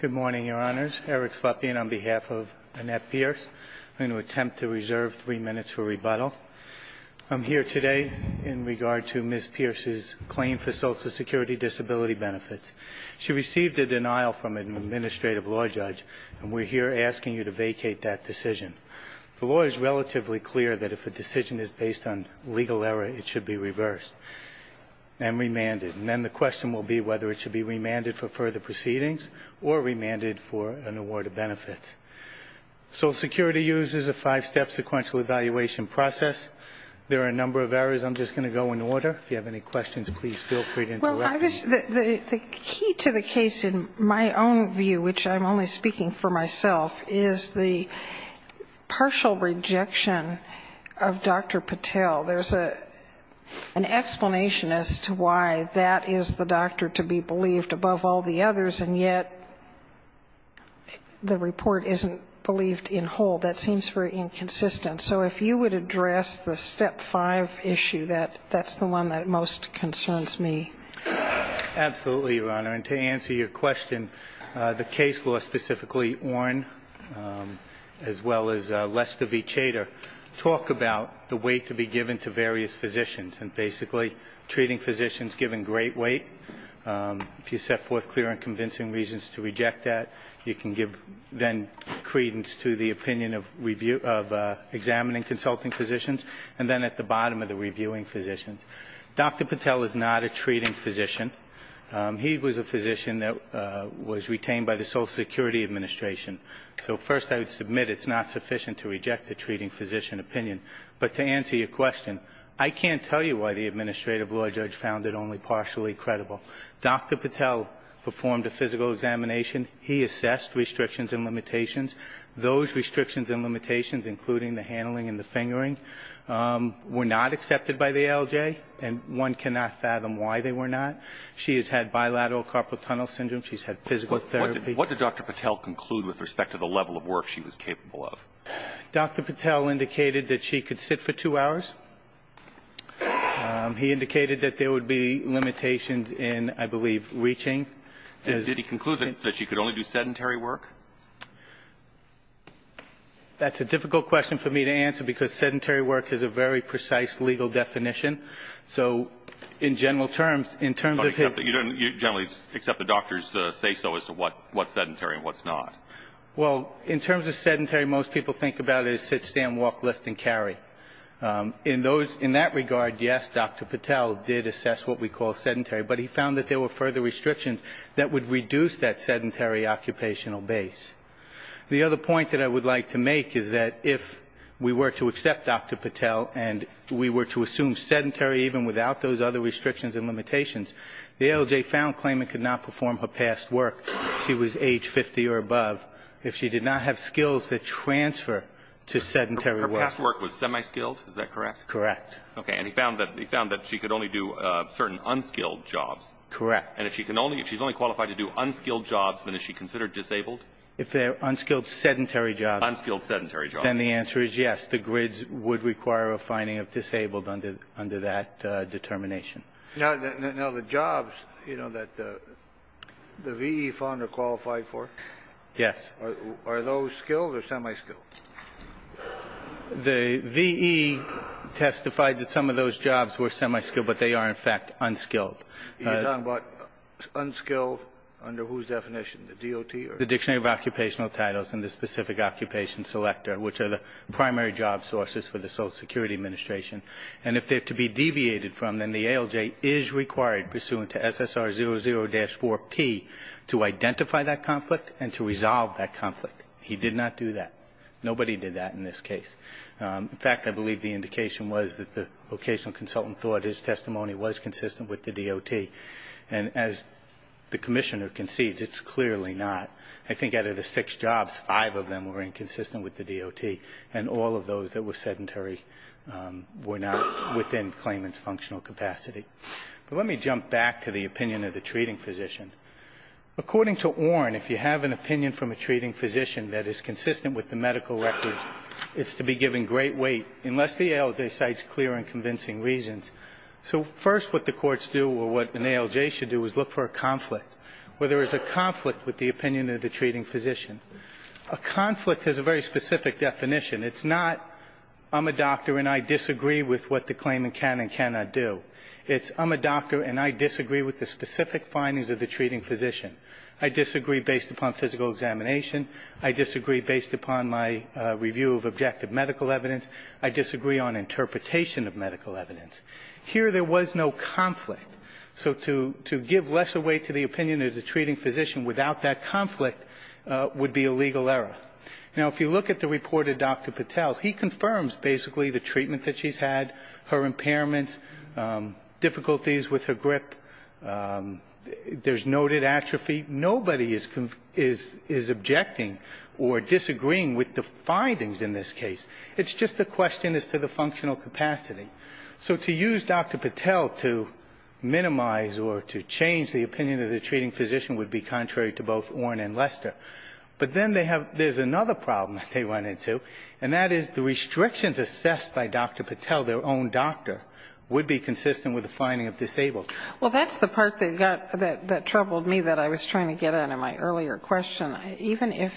Good morning, Your Honors. Eric Slepian on behalf of Annett Pierce. I'm going to attempt to reserve three minutes for rebuttal. I'm here today in regard to Ms. Pierce's claim for Social Security disability benefits. She received a denial from an administrative law judge, and we're here asking you to vacate that decision. The law is relatively clear that if a decision is based on legal error, it should be reversed and remanded. And then the question will be whether it should be remanded for further proceedings or remanded for an award of benefits. Social Security uses a five-step sequential evaluation process. There are a number of errors. I'm just going to go in order. If you have any questions, please feel free to interrupt me. The key to the case, in my own view, which I'm only speaking for myself, is the partial rejection of Dr. Patel. There's an explanation as to why that is the doctor to be believed above all the others, and yet the report isn't believed in whole. That seems very inconsistent. So if you would address the step five issue, that's the one that most concerns me. Absolutely, Your Honor. And to answer your question, the case law specifically, Oren, as well as Lester v. Chater, talk about the weight to be given to various physicians, and basically treating physicians given great weight. If you set forth clear and convincing reasons to reject that, you can give then credence to the opinion of examining consulting physicians, and then at the bottom of the reviewing physicians. Dr. Patel is not a treating physician. He was a physician that was retained by the Social Security Administration. So first I would submit it's not sufficient to reject the treating physician opinion. But to answer your question, I can't tell you why the administrative law judge found it only partially credible. Dr. Patel performed a physical examination. He assessed restrictions and limitations. Those restrictions and limitations, including the handling and the fingering, were not accepted by the LJ, and one cannot fathom why they were not. She has had bilateral carpal tunnel syndrome. She's had physical therapy. What did Dr. Patel conclude with respect to the level of work she was capable of? Dr. Patel indicated that she could sit for two hours. He indicated that there would be limitations in, I believe, reaching. Did he conclude that she could only do sedentary work? That's a difficult question for me to answer because sedentary work is a very precise legal definition. So in general terms, in terms of his ‑‑ But you generally accept the doctors say so as to what's sedentary and what's not. Well, in terms of sedentary, most people think about it as sit, stand, walk, lift, and carry. In that regard, yes, Dr. Patel did assess what we call sedentary, but he found that there were further restrictions that would reduce that sedentary occupational base. The other point that I would like to make is that if we were to accept Dr. Patel and we were to assume sedentary even without those other restrictions and limitations, the LJ found Clayman could not perform her past work if she was age 50 or above, if she did not have skills that transfer to sedentary work. Her past work was semi‑skilled, is that correct? Correct. Okay. And he found that she could only do certain unskilled jobs. Correct. And if she's only qualified to do unskilled jobs, then is she considered disabled? If they're unskilled sedentary jobs. Unskilled sedentary jobs. Then the answer is yes. The grids would require a finding of disabled under that determination. Now, the jobs, you know, that the VE found her qualified for? Yes. Are those skilled or semi‑skilled? The VE testified that some of those jobs were semi‑skilled, but they are, in fact, unskilled. You're talking about unskilled under whose definition? The DOT or? The Dictionary of Occupational Titles and the specific occupation selector, which are the primary job sources for the Social Security Administration. And if they're to be deviated from, then the ALJ is required, pursuant to SSR00-4P, to identify that conflict and to resolve that conflict. He did not do that. Nobody did that in this case. In fact, I believe the indication was that the vocational consultant thought his testimony was consistent with the DOT. And as the Commissioner concedes, it's clearly not. I think out of the six jobs, five of them were inconsistent with the DOT, and all of those that were sedentary were not within claimant's functional capacity. But let me jump back to the opinion of the treating physician. According to Orn, if you have an opinion from a treating physician that is consistent with the medical record, it's to be given great weight unless the ALJ cites clear and convincing reasons. So first what the courts do or what an ALJ should do is look for a conflict, whether it's a conflict with the opinion of the treating physician. A conflict has a very specific definition. It's not, I'm a doctor and I disagree with what the claimant can and cannot do. It's, I'm a doctor and I disagree with the specific findings of the treating physician. I disagree based upon physical examination. I disagree based upon my review of objective medical evidence. I disagree on interpretation of medical evidence. Here there was no conflict. So to give less weight to the opinion of the treating physician without that conflict would be a legal error. Now, if you look at the report of Dr. Patel, he confirms basically the treatment that she's had, her impairments, difficulties with her grip, there's noted atrophy. Nobody is objecting or disagreeing with the findings in this case. It's just a question as to the functional capacity. So to use Dr. Patel to minimize or to change the opinion of the treating physician would be contrary to both Orn and Lester. But then they have, there's another problem that they run into, and that is the restrictions assessed by Dr. Patel, their own doctor, would be consistent with the finding of disabled. Well, that's the part that got, that troubled me that I was trying to get at in my earlier question. Even if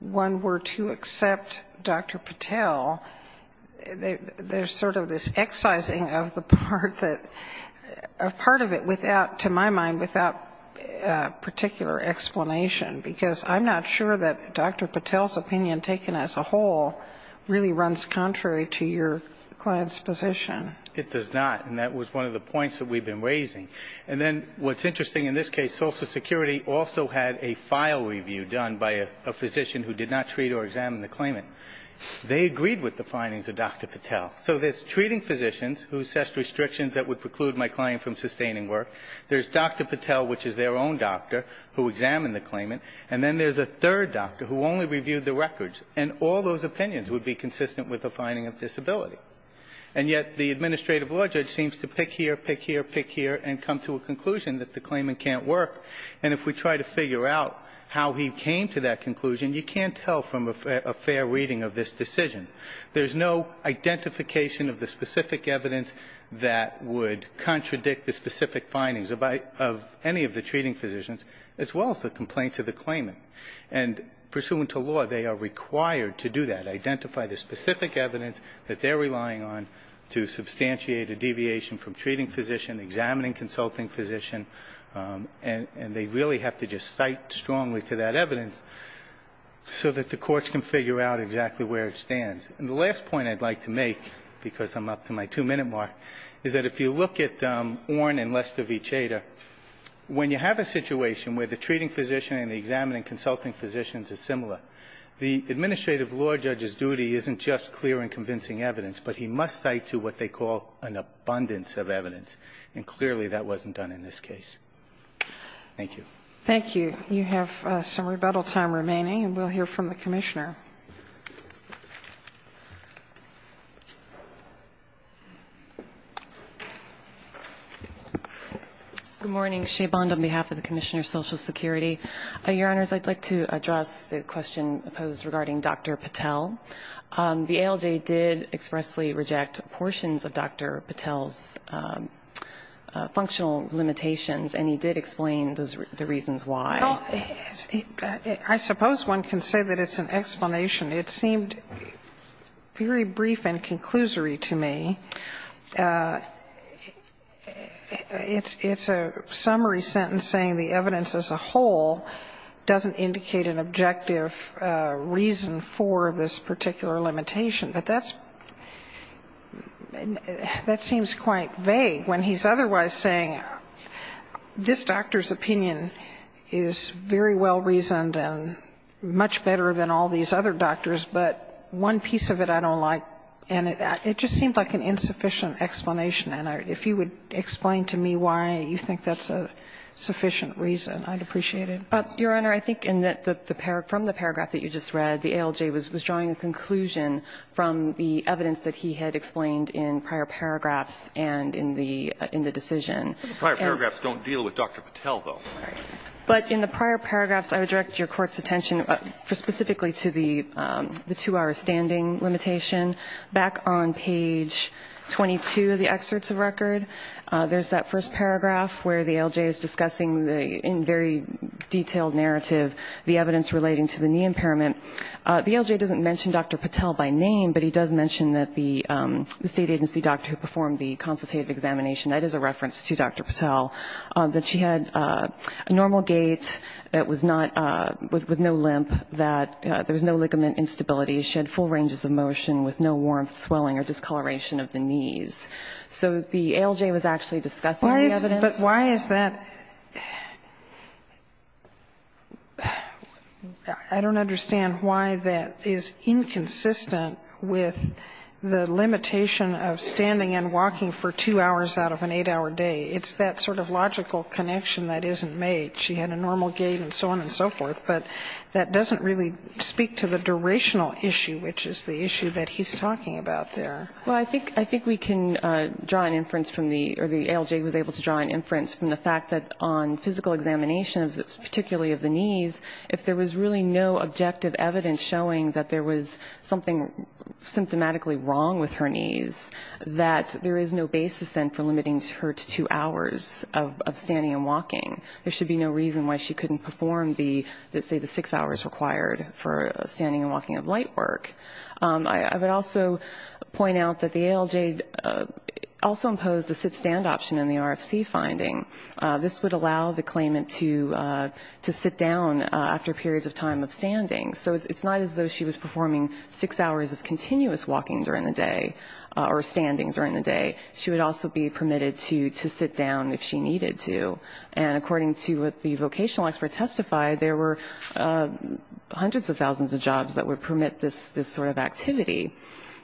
one were to accept Dr. Patel, there's sort of this excising of the part that, a part of it without, to my mind, without particular explanation, because I'm not sure that Dr. Patel's opinion taken as a whole really runs contrary to your client's position. It does not. And that was one of the points that we've been raising. And then what's interesting in this case, Social Security also had a file review done by a physician who did not treat or examine the claimant. They agreed with the findings of Dr. Patel. So there's treating physicians who assessed restrictions that would preclude my client from sustaining work. There's Dr. Patel, which is their own doctor, who examined the claimant. And then there's a third doctor who only reviewed the records. And all those opinions would be consistent with the finding of disability. And yet the administrative law judge seems to pick here, pick here, pick here, and come to a conclusion that the claimant can't work. And if we try to figure out how he came to that conclusion, you can't tell from a fair reading of this decision. There's no identification of the specific evidence that would contradict the specific findings of any of the treating physicians, as well as the complaints of the claimant. And pursuant to law, they are required to do that, identify the specific evidence that they're relying on to substantiate a deviation from treating physician, examining consulting physician. And they really have to just cite strongly to that evidence so that the courts can figure out exactly where it stands. And the last point I'd like to make, because I'm up to my two-minute mark, is that if you look at Orn and Lester v. Chater, when you have a situation where the treating physician and the examining consulting physicians are similar, the administrative law judge's duty isn't just clear and convincing evidence, but he must cite to what they call an abundance of evidence. And clearly that wasn't done in this case. Thank you. Thank you. You have some rebuttal time remaining, and we'll hear from the commissioner. Good morning. Shay Bond on behalf of the Commissioner of Social Security. Your Honors, I'd like to address the question posed regarding Dr. Patel. The ALJ did expressly reject portions of Dr. Patel's functional limitations, and he did explain the reasons why. Well, I suppose one can say that it's an explanation. It seemed very brief and conclusory to me. It's a summary sentence saying the evidence as a whole doesn't indicate an objective reason for this particular limitation. But that's – that seems quite vague when he's otherwise saying this doctor's opinion is very well reasoned and much better than all these other doctors, but one piece of it I don't like. And it just seemed like an insufficient explanation. And if you would explain to me why you think that's a sufficient reason, I'd appreciate it. Your Honor, I think in the – from the paragraph that you just read, the ALJ was drawing a conclusion from the evidence that he had explained in prior paragraphs and in the decision. Prior paragraphs don't deal with Dr. Patel, though. But in the prior paragraphs, I would direct your Court's attention specifically to the two-hour standing limitation. Back on page 22 of the excerpts of record, there's that first paragraph where the ALJ is discussing in very detailed narrative the evidence relating to the knee impairment. The ALJ doesn't mention Dr. Patel by name, but he does mention that the State Agency doctor who performed the consultative examination – that is a reference to Dr. Patel – that she had a normal gait, that was not – with no limp, that there was no ligament instability. She had full ranges of motion with no warmth, swelling, or discoloration of the knees. So the ALJ was actually discussing the evidence. But why is that – I don't understand why that is inconsistent with the limitation of standing and walking for two hours out of an eight-hour day. It's that sort of logical connection that isn't made. She had a normal gait and so on and so forth. But that doesn't really speak to the durational issue, which is the issue that he's talking about there. Well, I think we can draw an inference from the – or the ALJ was able to draw an inference from the fact that on physical examinations, particularly of the knees, if there was really no objective evidence showing that there was something symptomatically wrong with her knees, that there is no basis then for limiting her to two hours of standing and walking. There should be no reason why she couldn't perform the, say, the six hours required for standing and walking of light work. I would also point out that the ALJ also imposed a sit-stand option in the RFC finding. This would allow the claimant to sit down after periods of time of standing. So it's not as though she was performing six hours of continuous walking during the day or standing during the day. She would also be permitted to sit down if she needed to. And according to what the vocational expert testified, there were hundreds of thousands of jobs that would permit this sort of activity.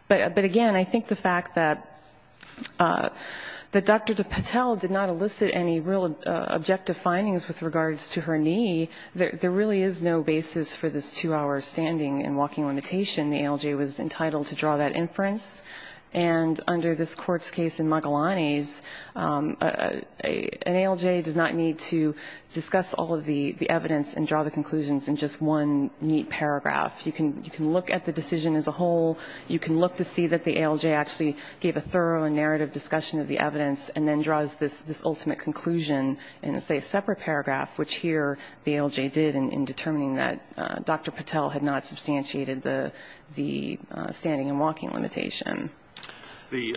But again, I think the fact that Dr. Patel did not elicit any real objective findings with regards to her knee, there really is no basis for this two-hour standing and walking limitation. The ALJ was entitled to draw that inference. And under this court's case in Magalanes, an ALJ does not need to discuss all of the You can look at the decision as a whole. You can look to see that the ALJ actually gave a thorough and narrative discussion of the evidence and then draws this ultimate conclusion in, say, a separate paragraph, which here the ALJ did in determining that Dr. Patel had not substantiated the standing and walking limitation. The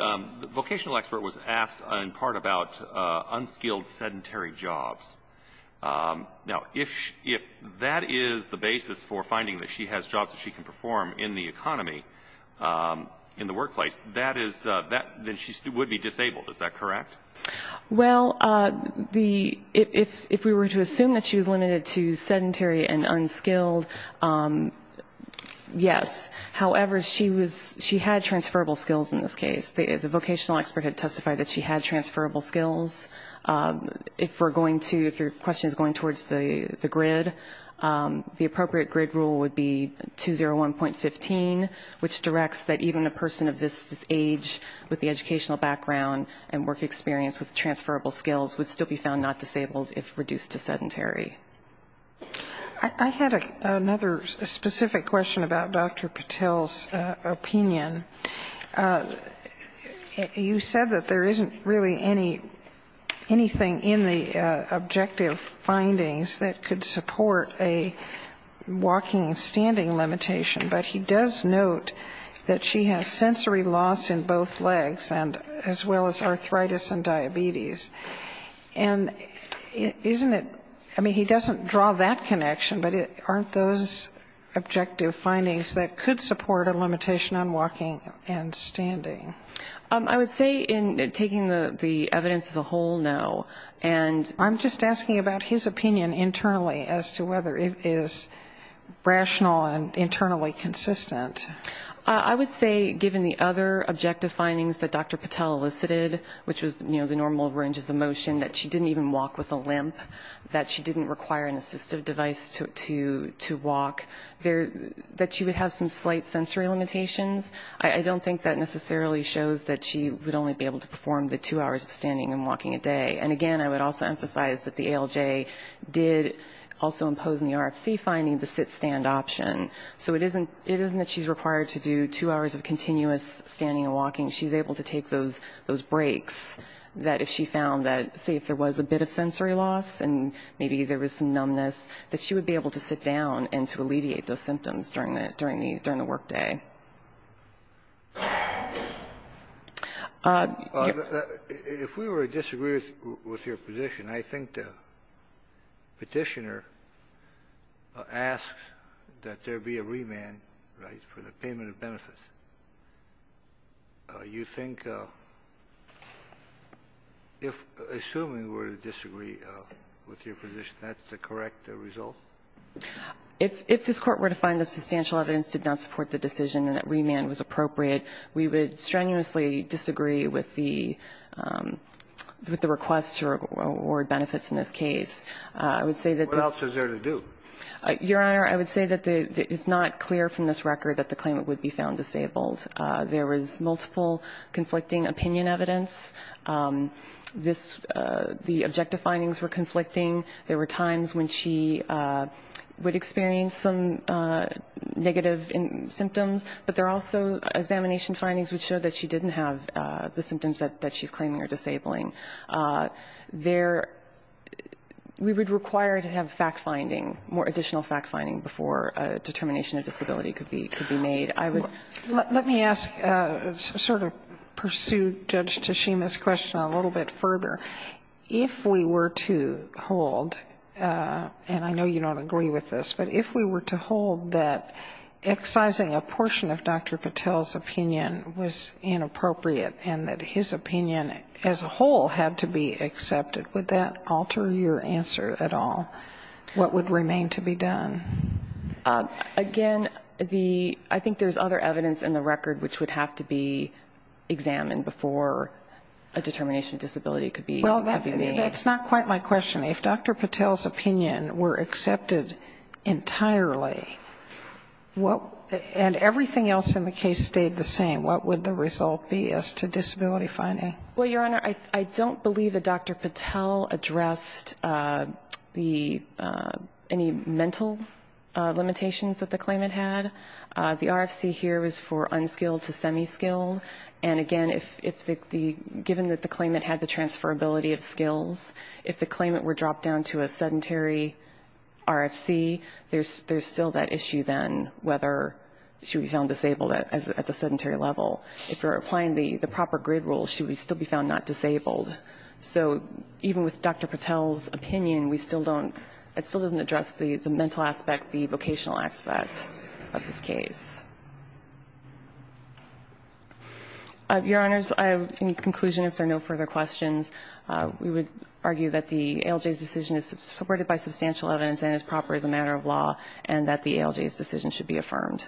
vocational expert was asked in part about unskilled sedentary jobs. Now, if that is the basis for finding that she has jobs that she can perform in the economy, in the workplace, that is that then she would be disabled. Is that correct? Well, if we were to assume that she was limited to sedentary and unskilled, yes. However, she had transferable skills in this case. The vocational expert had testified that she had transferable skills. If we're going to, if your question is going towards the grid, the appropriate grid rule would be 201.15, which directs that even a person of this age with the educational background and work experience with transferable skills would still be found not disabled if reduced to sedentary. I had another specific question about Dr. Patel's opinion. You said that there isn't really anything in the objective findings that could support a walking and standing limitation, but he does note that she has sensory loss in both legs, as well as arthritis and diabetes. And isn't it, I mean, he doesn't draw that connection, but aren't those objective findings that could support a limitation on walking and standing? I would say in taking the evidence as a whole, no. And I'm just asking about his opinion internally as to whether it is rational and internally consistent. I would say given the other objective findings that Dr. Patel elicited, which was, you know, the normal ranges of motion, that she didn't even walk with a limp, that she didn't require an assistive device to walk, that she would have some slight sensory limitations. I don't think that necessarily shows that she would only be able to perform the two hours of standing and walking a day. And again, I would also emphasize that the ALJ did also impose in the RFC finding the sit-stand option. So it isn't that she's required to do two hours of continuous standing and walking. She's able to take those breaks that if she found that, say, if there was a bit of sensory loss and maybe there was some numbness, that she would be able to sit down and to alleviate those symptoms during the workday. If we were to disagree with your position, I think the Petitioner asks that there be a remand, right, for the payment of benefits. You think if, assuming we're to disagree with your position, that's the correct result? If this Court were to find that substantial evidence did not support the decision and that remand was appropriate, we would strenuously disagree with the request to award benefits in this case. I would say that this ---- What else is there to do? Your Honor, I would say that it's not clear from this record that the claimant would be found disabled. There was multiple conflicting opinion evidence. This ---- the objective findings were conflicting. There were times when she would experience some negative symptoms, but there are also examination findings which show that she didn't have the symptoms that she's claiming are disabling. There ---- we would require to have fact-finding, more additional fact-finding before a determination of disability could be made. I would ---- Let me ask, sort of pursue Judge Teshima's question a little bit further. If we were to hold, and I know you don't agree with this, but if we were to hold that excising a portion of Dr. Patel's opinion was inappropriate and that his opinion as a whole had to be accepted, would that alter your answer at all? What would remain to be done? Again, the ---- I think there's other evidence in the record which would have to be That's not quite my question. If Dr. Patel's opinion were accepted entirely, and everything else in the case stayed the same, what would the result be as to disability finding? Well, Your Honor, I don't believe that Dr. Patel addressed the ---- any mental limitations that the claimant had. The RFC here is for unskilled to semi-skilled, and again, if the ---- given that the claimant had the transferability of skills, if the claimant were dropped down to a sedentary RFC, there's still that issue then whether she would be found disabled at the sedentary level. If you're applying the proper grid rule, she would still be found not disabled. So even with Dr. Patel's opinion, we still don't ---- Your Honors, in conclusion, if there are no further questions, we would argue that the ALJ's decision is supported by substantial evidence and is proper as a matter of law, and that the ALJ's decision should be affirmed.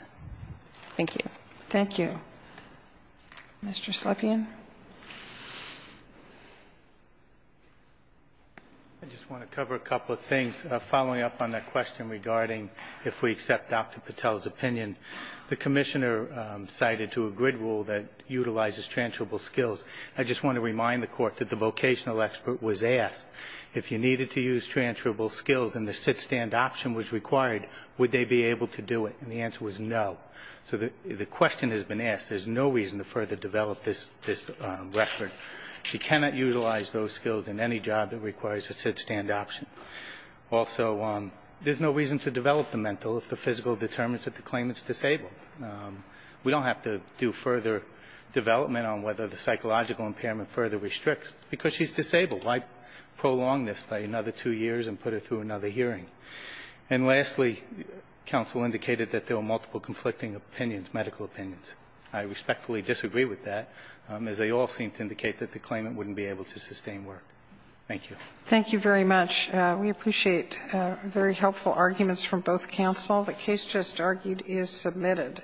Thank you. Thank you. Mr. Slepian. I just want to cover a couple of things. Following up on that question regarding if we accept Dr. Patel's opinion, the Commissioner cited to a grid rule that utilizes transferable skills. I just want to remind the Court that the vocational expert was asked, if you needed to use transferable skills and the sit-stand option was required, would they be able to do it? And the answer was no. So the question has been asked. There's no reason to further develop this record. You cannot utilize those skills in any job that requires a sit-stand option. Also, there's no reason to develop the mental if the physical determines that the claimant's disabled. We don't have to do further development on whether the psychological impairment further restricts, because she's disabled. Why prolong this by another two years and put her through another hearing? And lastly, counsel indicated that there were multiple conflicting opinions, medical opinions. I respectfully disagree with that, as they all seem to indicate that the claimant wouldn't be able to sustain work. Thank you. Thank you very much. We appreciate very helpful arguments from both counsel. The case just argued is submitted.